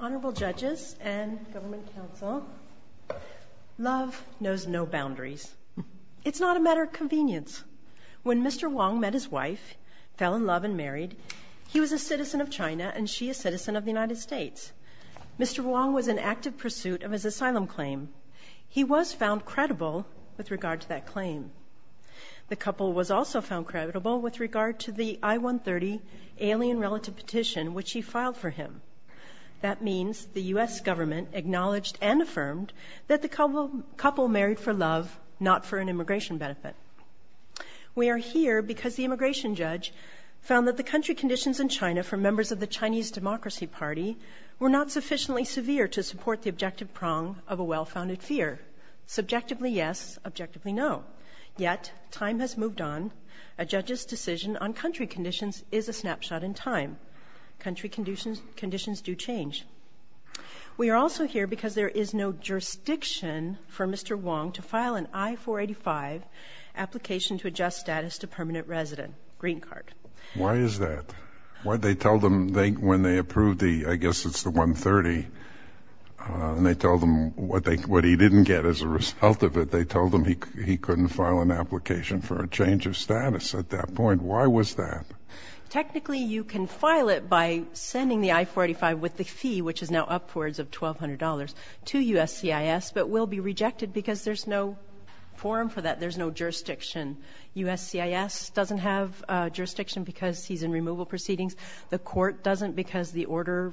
Honorable judges and government counsel, love knows no boundaries. It's not a matter of convenience. When Mr. Wang met his wife, fell in love and married, he was a citizen of China and she a citizen of the United States. Mr. Wang was in active pursuit of his asylum claim. He was found credible with regard to that claim. The couple was also found credible with regard to the I-130 alien relative petition which he filed for him. That means the U.S. government acknowledged and affirmed that the couple married for love, not for an immigration benefit. We are here because the immigration judge found that the country conditions in China for members of the Chinese Democracy Party were not sufficiently severe to support the objective prong of a well-founded fear. Subjectively yes, objectively no. Yet, time has moved on. A judge's decision on country conditions is a snapshot in time. Country conditions do change. We are also here because there is no jurisdiction for Mr. Wang to file an I-485 application to adjust status to permanent resident, green card. Why is that? Why did they tell them when they approved the, I guess it's the 130, and they told them what they, what he didn't get as a result of it. They told him he couldn't file an application for a change of status at that point. Why was that? Technically, you can file it by sending the I-485 with the fee, which is now upwards of $1,200, to USCIS, but will be rejected because there's no forum for that. There's no jurisdiction. USCIS doesn't have jurisdiction because he's in removal proceedings. The court doesn't because the order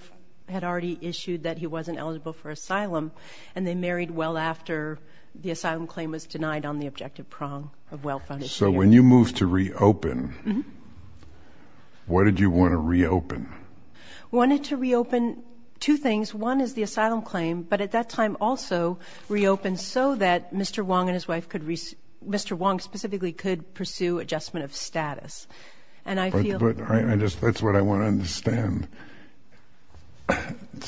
had already issued that he wasn't eligible for asylum, and they married well after the asylum claim was denied on the objective prong of well-founded fear. So when you moved to reopen, what did you want to reopen? Wanted to reopen two things. One is the asylum claim, but at that time also reopened so that Mr. Wang and his wife could, Mr. Wang specifically could pursue adjustment of status. And I feel... But I just, that's what I want to understand.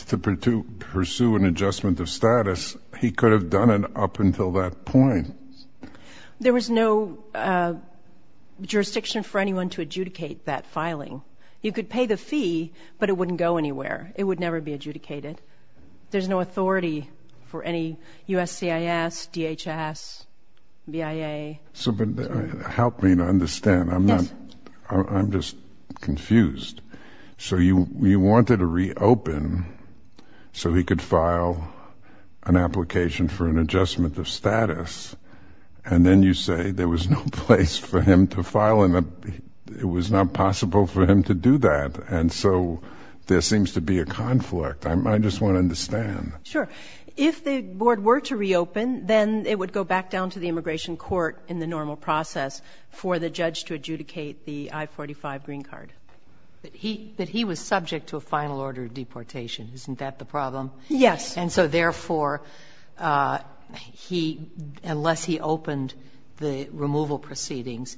To pursue an adjustment of status, he could have done it up until that point. There was no jurisdiction for anyone to adjudicate that filing. You could pay the fee, but it wouldn't go anywhere. It would never be adjudicated. There's no authority for any USCIS, DHS, BIA. So help me to confused. So you wanted to reopen so he could file an application for an adjustment of status, and then you say there was no place for him to file and it was not possible for him to do that. And so there seems to be a conflict. I just want to understand. Sure. If the board were to reopen, then it would go back down to the immigration court in the normal process for the judge to But he, but he was subject to a final order of deportation. Isn't that the problem? Yes. And so therefore, he, unless he opened the removal proceedings,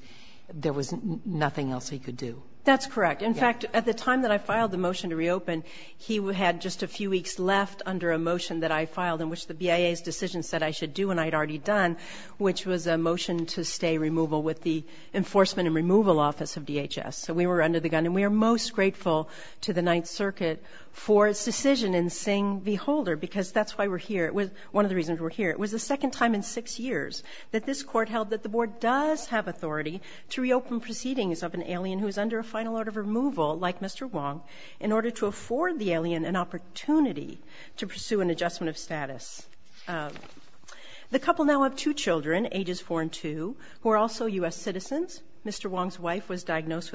there was nothing else he could do. That's correct. In fact, at the time that I filed the motion to reopen, he had just a few weeks left under a motion that I filed in which the BIA's decision said I should do and I'd already done, which was a motion to stay removal with the Enforcement and Removal Office of DHS. So we were under the gun and we're most grateful to the Ninth Circuit for its decision in Singh v. Holder because that's why we're here. It was one of the reasons we're here. It was the second time in six years that this court held that the board does have authority to reopen proceedings of an alien who is under a final order of removal like Mr Wong in order to afford the alien an opportunity to pursue an adjustment of status. Um, the couple now have two Children, ages four and two, who are also U. S. Citizens. Mr Wong's wife was diabetes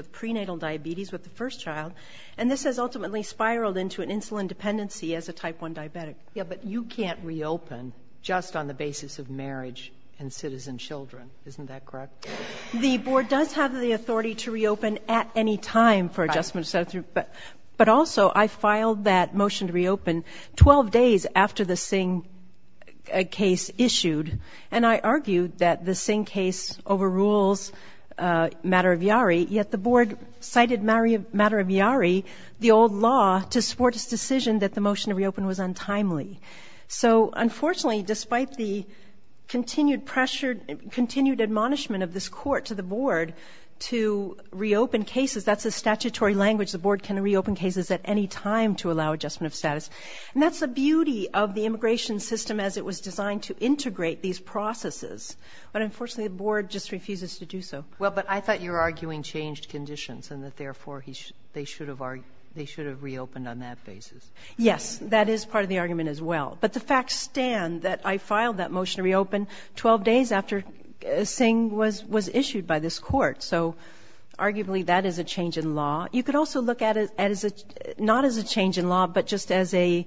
with the first child, and this has ultimately spiraled into an insulin dependency as a type one diabetic. Yeah, but you can't reopen just on the basis of marriage and citizen Children. Isn't that correct? The board does have the authority to reopen at any time for adjustment, but but also I filed that motion to reopen 12 days after the Singh case issued, and I argued that the cited marry a matter of Yari the old law to support his decision that the motion to reopen was untimely. So unfortunately, despite the continued pressure, continued admonishment of this court to the board to reopen cases, that's a statutory language. The board can reopen cases at any time to allow adjustment of status, and that's the beauty of the immigration system as it was designed to integrate these processes. But unfortunately, the board just refuses to do so well. But I thought you're arguing changed conditions and that therefore they should have are. They should have reopened on that basis. Yes, that is part of the argument as well. But the facts stand that I filed that motion to reopen 12 days after saying was was issued by this court. So arguably, that is a change in law. You could also look at it as a not as a change in law, but just as a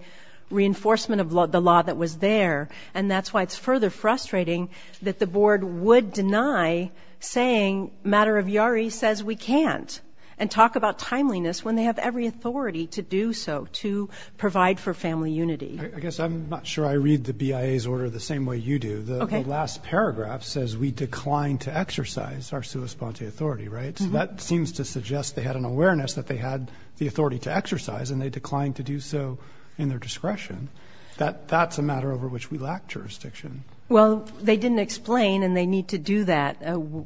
reinforcement of the law that was there. And that's why it's further frustrating that the board would deny saying matter of Yari says we can't and talk about timeliness when they have every authority to do so to provide for family unity. I guess I'm not sure I read the B. I. A. S. Order the same way you do. The last paragraph says we declined to exercise our sui sponte authority, right? So that seems to suggest they had an awareness that they had the authority to exercise and they declined to do so in their discretion. That that's a matter over which we lacked jurisdiction. Well, they didn't explain and they need to do that.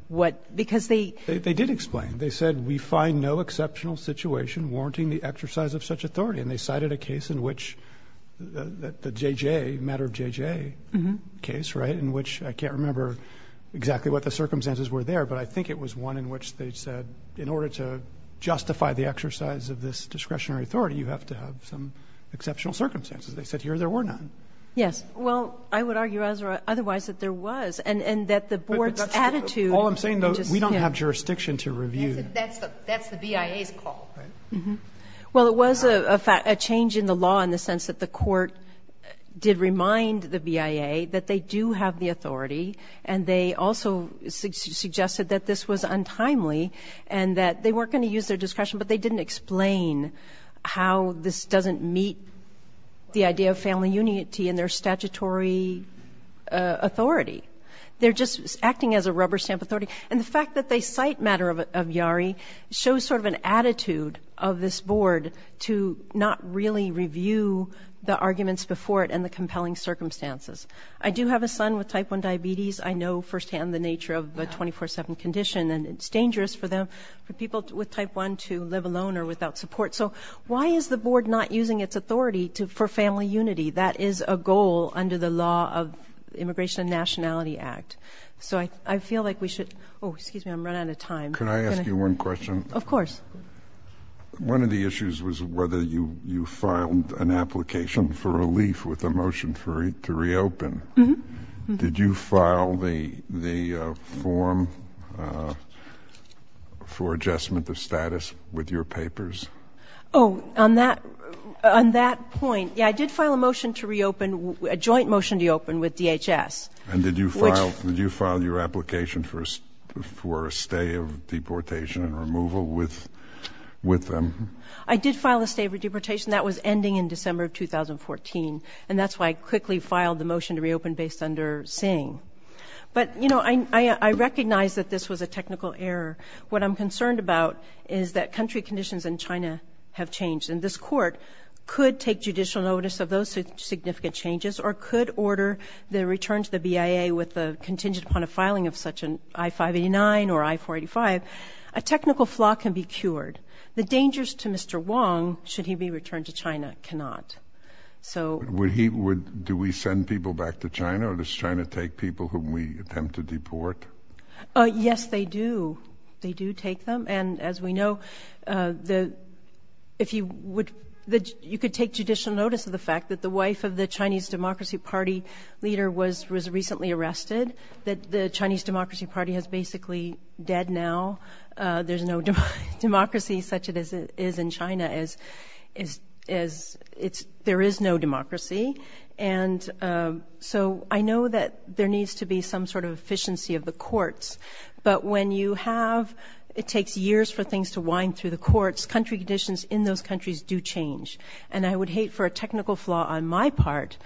What? Because they they did explain. They said we find no exceptional situation warranting the exercise of such authority. And they cited a case in which the J. J. Matter of J. J. Case right in which I can't remember exactly what the circumstances were there, but I think it was one in which they said in order to justify the exercise of this discretionary authority, you have to have some exceptional circumstances. They said here there were none. Yes. Well, I would argue as otherwise that there was and and that the board's attitude. All I'm saying, though, we don't have jurisdiction to review. That's that's the B. I. A. S. Call. Well, it was a fact a change in the law in the sense that the court did remind the B. I. A. That they do have the authority and they also suggested that this was untimely and that they weren't going to use their discretion. But they didn't explain how this doesn't meet the idea of family unity in their statutory authority. They're just acting as a rubber stamp authority. And the fact that they cite matter of of Yari shows sort of an attitude of this board to not really review the arguments before it and the compelling circumstances. I do have a son with type one diabetes. I know firsthand the nature of the 24 7 condition and it's dangerous for them for people with type one to live alone or without support. So why is the board not using its authority to for family unity? That is a goal under the law of Immigration and Nationality Act. So I I feel like we should. Oh, excuse me. I'm running out of time. Can I ask you one question? Of course. One of the issues was whether you you filed an application for relief with a motion for it to reopen. Did you file the the form for adjustment of status with your papers? Oh, on that on that point? Yeah, I did file a motion to reopen a joint motion to open with DHS. And did you file? Did you file your application for for a stay of deportation and removal with with them? I did file a state of deportation that was ending in December of 2014. And that's why I quickly filed the motion to reopen based under Singh. But you know, I recognize that this was a technical error. What I'm concerned about is that country conditions in China have changed. And this court could take judicial notice of those significant changes or could order the return to the BIA with the contingent upon a filing of such an I-589 or I-485. A technical flaw can be cured. The dangers to Mr. Wong, should he be Do we send people back to China? Or does China take people who we attempt to deport? Yes, they do. They do take them. And as we know, the, if you would, that you could take judicial notice of the fact that the wife of the Chinese Democracy Party leader was was recently arrested, that the Chinese Democracy Party has basically dead now. There's no democracy such as it is in China as is, as it's, there is no democracy. And so I know that there needs to be some sort of efficiency of the courts. But when you have, it takes years for things to wind through the courts, country conditions in those countries do change. And I would hate for a technical flaw on my part,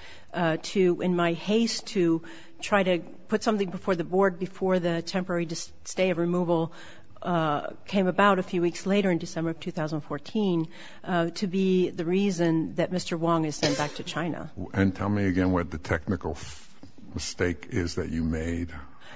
to in my haste to try to put something before the board before the temporary stay of removal came about a December of 2014, to be the reason that Mr. Wong is sent back to China. And tell me again what the technical mistake is that you made.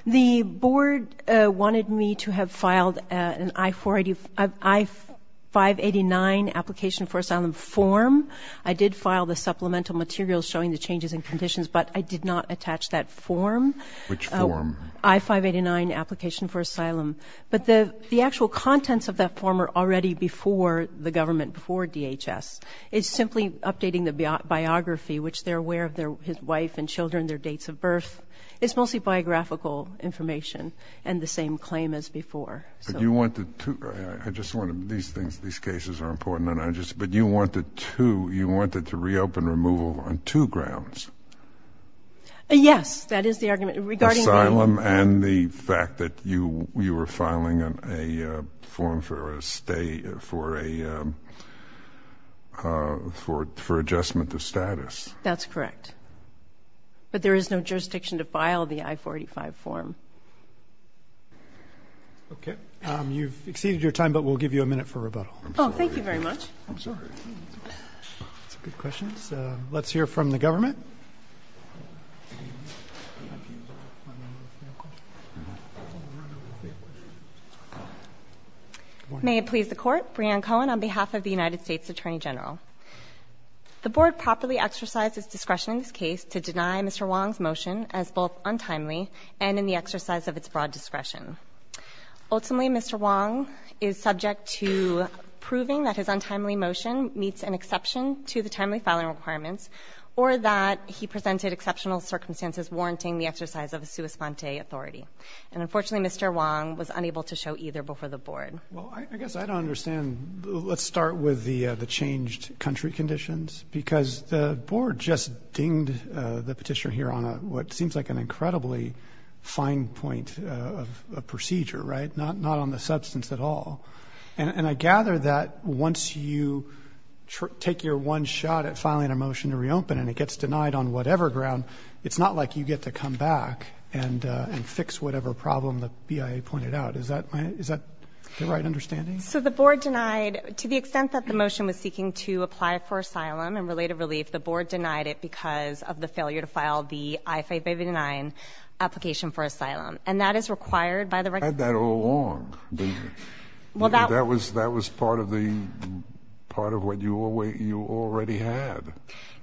The board wanted me to have filed an I-485, I-589 application for asylum form. I did file the supplemental materials showing the changes in conditions, but I did not attach that form. Which form? I-589 application for asylum. But the actual contents of that form are already before the government, before DHS, is simply updating the biography, which they're aware of their, his wife and children, their dates of birth. It's mostly biographical information and the same claim as before. But you wanted to, I just want to, these things, these cases are important and I just, but you wanted to, you wanted to reopen removal on two grounds. Yes, that is the argument regarding asylum and the fact that you, you were filing a form for a stay, for a, for, for adjustment of status. That's correct. But there is no jurisdiction to file the I-485 form. Okay. You've exceeded your time, but we'll give you a minute for rebuttal. Oh, thank you very much. I'm sorry. Good questions. Let's hear from the government. May it please the Court, Brianne Cohen on behalf of the United States Attorney General. The Board properly exercises discretion in this case to deny Mr. Wong's motion as both untimely and in the exercise of its broad discretion. Ultimately, Mr. Wong is subject to proving that his untimely motion meets an exception to the timely filing requirements or that he presented exceptional circumstances warranting the exercise of a sua sponte authority. And unfortunately, Mr. Wong was unable to show either before the Board. Well, I guess I don't understand. Let's start with the, the changed country conditions because the Board just dinged the petitioner here on a, what seems like an incredibly fine point of a procedure, right? Not, not on the substance at all. And I gather that once you take your one shot at filing a motion to reopen and it doesn't get to come back and, uh, and fix whatever problem the BIA pointed out. Is that, is that the right understanding? So the Board denied, to the extent that the motion was seeking to apply for asylum and related relief, the Board denied it because of the failure to file the I-589 application for asylum. And that is required by the... I had that all along. Well, that was, that was part of the, part of what you already, you already had.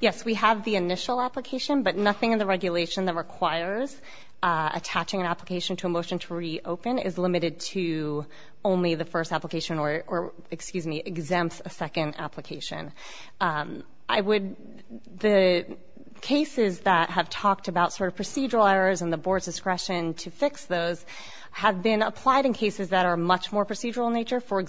Yes, we have the initial application, but nothing in the regulation that requires, uh, attaching an application to a motion to reopen is limited to only the first application or, or excuse me, exempts a second application. Um, I would, the cases that have talked about sort of procedural errors and the Board's discretion to fix those have been applied in cases that are much more procedural in nature. For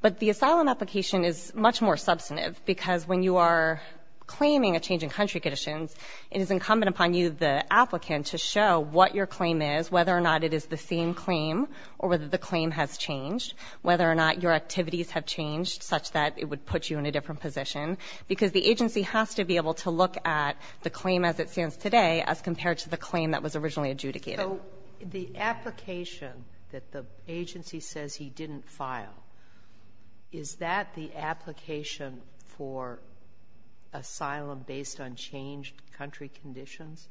But the asylum application is much more substantive because when you are claiming a change in country conditions, it is incumbent upon you, the applicant, to show what your claim is, whether or not it is the same claim or whether the claim has changed, whether or not your activities have changed such that it would put you in a different position because the agency has to be able to look at the claim as it stands today as compared to the claim that was originally adjudicated. The application that the agency says he didn't file, is that the application for asylum based on changed country conditions?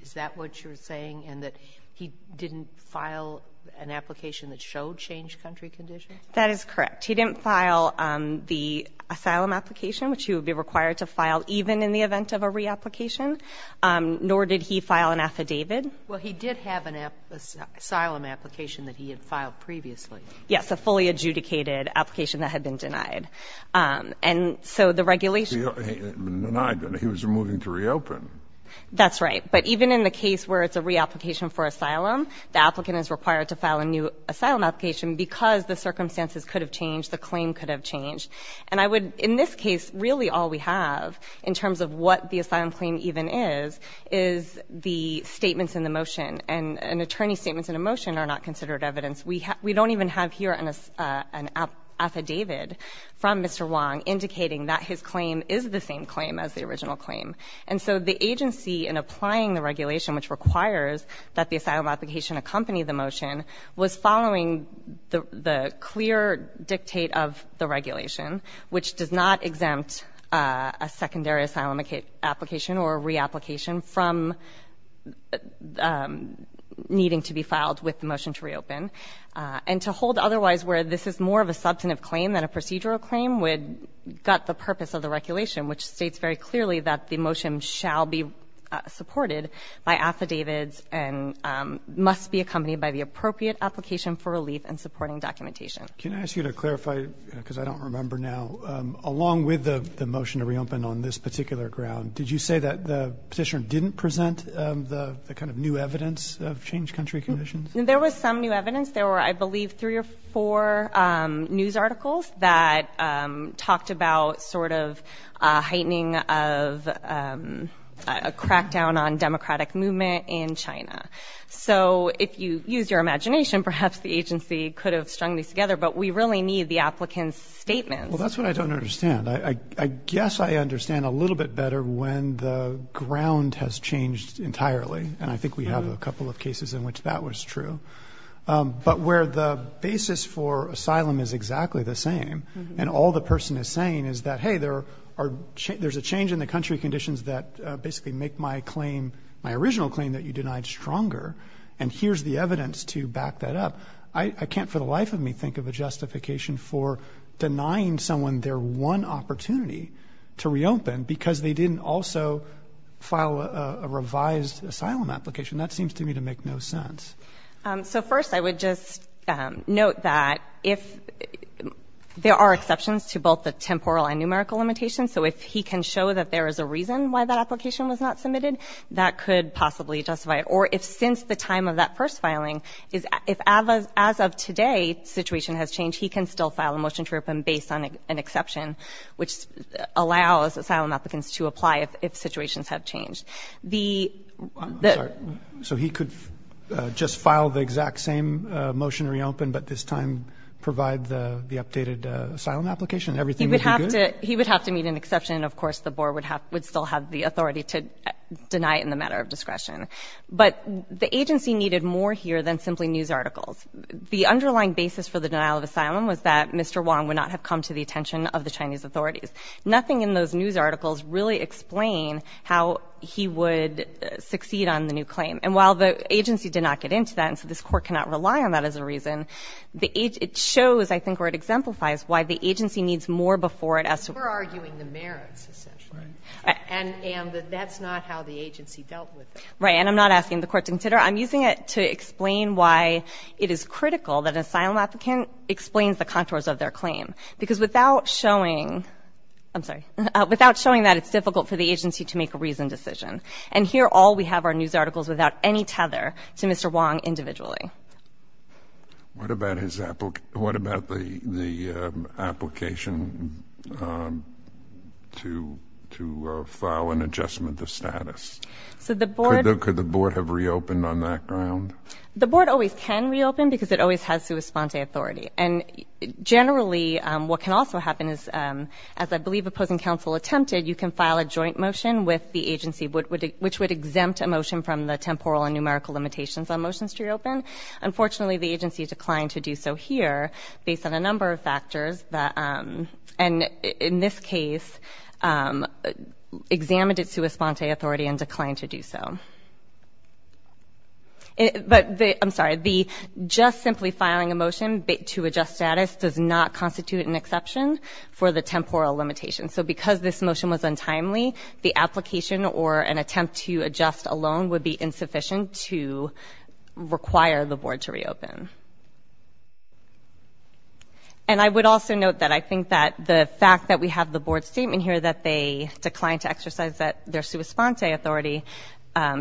Is that what you're saying? And that he didn't file an application that showed changed country conditions? That is correct. He didn't file, um, the asylum application, which you would be required to file even in the event of a reapplication. Um, nor did he file an asylum application that he had filed previously. Yes. A fully adjudicated application that had been denied. Um, and so the regulation, he was moving to reopen. That's right. But even in the case where it's a reapplication for asylum, the applicant is required to file a new asylum application because the circumstances could have changed. The claim could have changed. And I would, in this case, really all we have in terms of what the asylum claim even is, is the statements in the motion. And an attorney's statements in a motion are not considered evidence. We don't even have here an affidavit from Mr. Wong indicating that his claim is the same claim as the original claim. And so the agency in applying the regulation, which requires that the asylum application accompany the motion, was following the clear dictate of the regulation, which does not need to be filed with the motion to reopen. And to hold otherwise, where this is more of a substantive claim than a procedural claim, would gut the purpose of the regulation, which states very clearly that the motion shall be supported by affidavits and must be accompanied by the appropriate application for relief and supporting documentation. Can I ask you to clarify, because I don't remember now, along with the the motion to reopen on this kind of new evidence of changed country conditions? There was some new evidence. There were, I believe, three or four news articles that talked about sort of heightening of a crackdown on democratic movement in China. So if you use your imagination, perhaps the agency could have strung these together. But we really need the applicant's statements. Well, that's what I don't understand. I guess I can't, for the life of me, think of a justification for denying someone their one opportunity to reopen because they didn't also file a revised asylum application. That seems to me to make no sense. So first, I would just note that if there are exceptions to both the temporal and numerical limitations, so if he can show that there is a reason why that application was not submitted, that could possibly justify it. Or if since the time of that first filing, if as of today, situation has changed, he can still file a motion to reopen based on an exception, which allows asylum applicants to apply if situations have changed. So he could just file the exact same motion to reopen, but this time provide the updated asylum application? He would have to meet an exception. Of course, the board would still have the authority to deny it in the matter of discretion. But the agency needed more here than simply news articles. The underlying basis for the denial of asylum was that Mr. Wang would not have come to the attention of the Chinese authorities. Nothing in those news articles really explain how he would succeed on the new claim. And while the agency did not get into that, and so this Court cannot rely on that as a reason, it shows, I think, or it exemplifies why the agency needs more before it has to. We're arguing the merits, essentially. And that that's not how the agency dealt with it. Right. And I'm not asking the Court to consider it. I'm using it to explain why it is critical that an asylum applicant explains the contours of their claim. Because without showing, I'm sorry, without showing that, it's difficult for the agency to make a reasoned decision. And here, all we have are news articles without any tether to Mr. Wang individually. What about the application to file an adjustment of status? Could the board have reopened on that ground? The board always can reopen because it always has sua sponte authority. And generally, what can also happen is, as I believe opposing counsel attempted, you can file a joint motion with the agency, which would exempt a motion from the temporal and numerical limitations on motions to reopen. Unfortunately, the agency declined to do so here based on a number of factors. And in this case, the agency examined its sua sponte authority and declined to do so. But I'm sorry, the just simply filing a motion to adjust status does not constitute an exception for the temporal limitation. So because this motion was untimely, the application or an attempt to adjust alone would be insufficient to require the board to reopen. And I would also note that I think that the fact that we have the board's statement here that they declined to exercise their sua sponte authority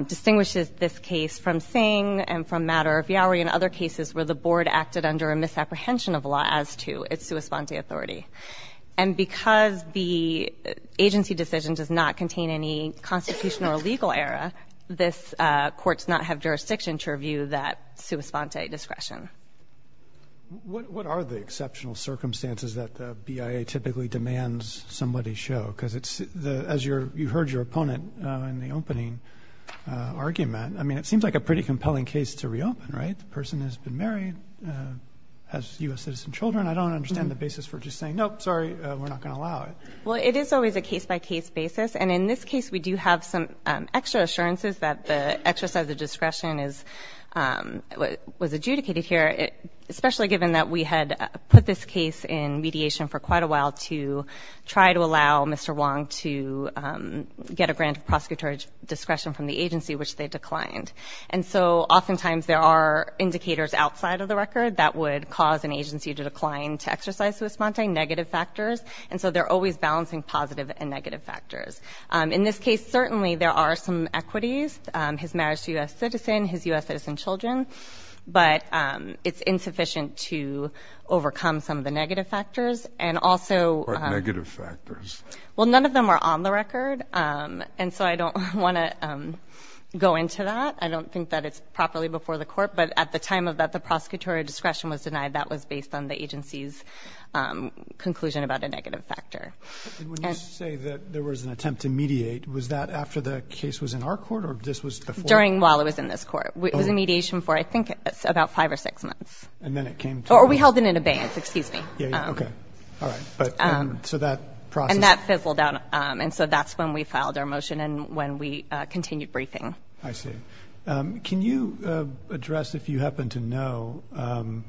distinguishes this case from Singh and from Matter of Yoweri and other cases where the board acted under a misapprehension of law as to its sua sponte authority. And because the agency decision does not contain any constitutional or legal error, this court does not have jurisdiction to review that sua sponte discretion. What are the exceptional circumstances that the BIA typically demands somebody show? Because it's the, as you heard your opponent in the opening argument, I mean it seems like a pretty compelling case to reopen, right? The person has been married, has US citizen children. I don't understand the basis for just saying nope, sorry, we're not going to allow it. Well, it is always a case-by-case basis. And in this case, we do have some extra assurances that the exercise of here, especially given that we had put this case in mediation for quite a while to try to allow Mr. Wong to get a grant of prosecutor discretion from the agency which they declined. And so oftentimes there are indicators outside of the record that would cause an agency to decline to exercise sua sponte negative factors. And so they're always balancing positive and negative factors. In this case, certainly there are some equities. His marriage to a US citizen, his US citizen children, but it's insufficient to overcome some of the negative factors and also negative factors. Well, none of them are on the record. Um, and so I don't want to, um, go into that. I don't think that it's properly before the court, but at the time of that, the prosecutorial discretion was denied. That was based on the agency's, um, conclusion about a negative factor. When you say that there was an attempt to mediate, was that after the case was in our court or this was during while it was in this court? It was a mediation for, I think it's about five or six months. And then it came or we held it in abeyance. Excuse me. Okay. All right. But, um, so that process, that fizzled out. Um, and so that's when we filed our motion and when we continued briefing. I see. Um, can you address if you happen to know, um,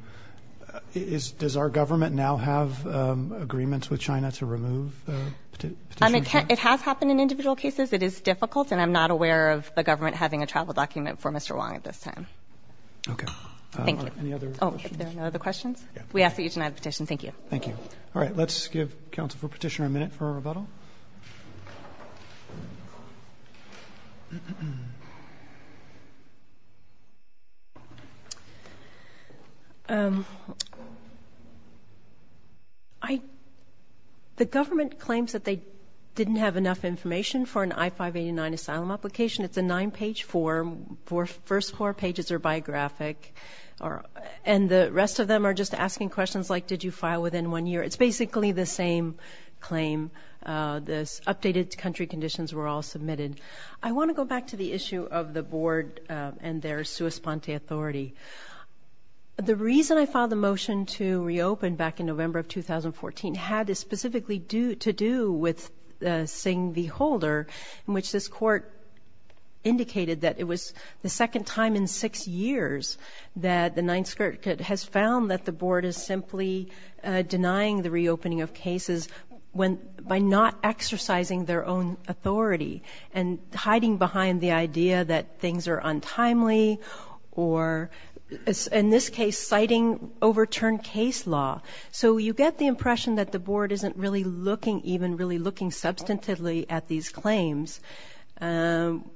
is, does our government now have agreements with China to remove the petition? It has happened in individual cases. It is difficult, and I'm not aware of the government having a travel document for Mr Wong at this time. Okay, thank you. Any other questions? We ask that you tonight petition. Thank you. Thank you. All right, let's give counsel for petitioner a minute for a rebuttal. Um, I the government claims that they didn't have enough information for an I 5 89 asylum application. It's a nine page for four. First four pages are biographic, and the rest of them are just asking questions like, Did you file within one year? It's basically the same claim. Uh, this updated country conditions were all submitted. I want to go back to the issue of the board and their sua sponte authority. The reason I found the motion to reopen back in November of 2014 had specifically due to do with saying the holder in which this court indicated that it was the second time in six years that the ninth skirt has found that the board is simply denying the reopening of cases when by not exercising their own authority and hiding behind the idea that things are in this case, citing overturned case law. So you get the impression that the board isn't really looking even really looking substantively at these claims. Um,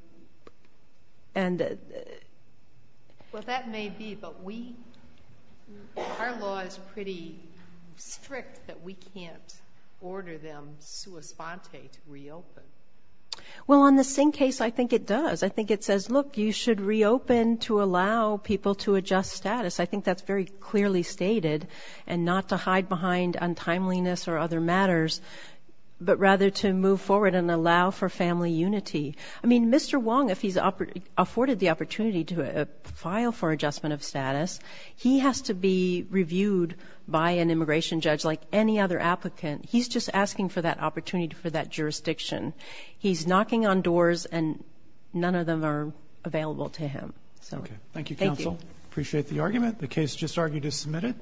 and well, that may be, but we our law is pretty strict that we can't order them. Sua sponte reopen. Well, on the same case, I think it does. I think it says, Look, you should reopen to allow people to adjust status. I think that's very clearly stated and not to hide behind untimeliness or other matters, but rather to move forward and allow for family unity. I mean, Mr Wong, if he's afforded the opportunity to file for adjustment of status, he has to be reviewed by an immigration judge like any other applicant. He's just asking for that opportunity for that jurisdiction. He's knocking on doors and none of them are available to him. Thank you, Counsel. Appreciate the argument. The case just argued is submitted.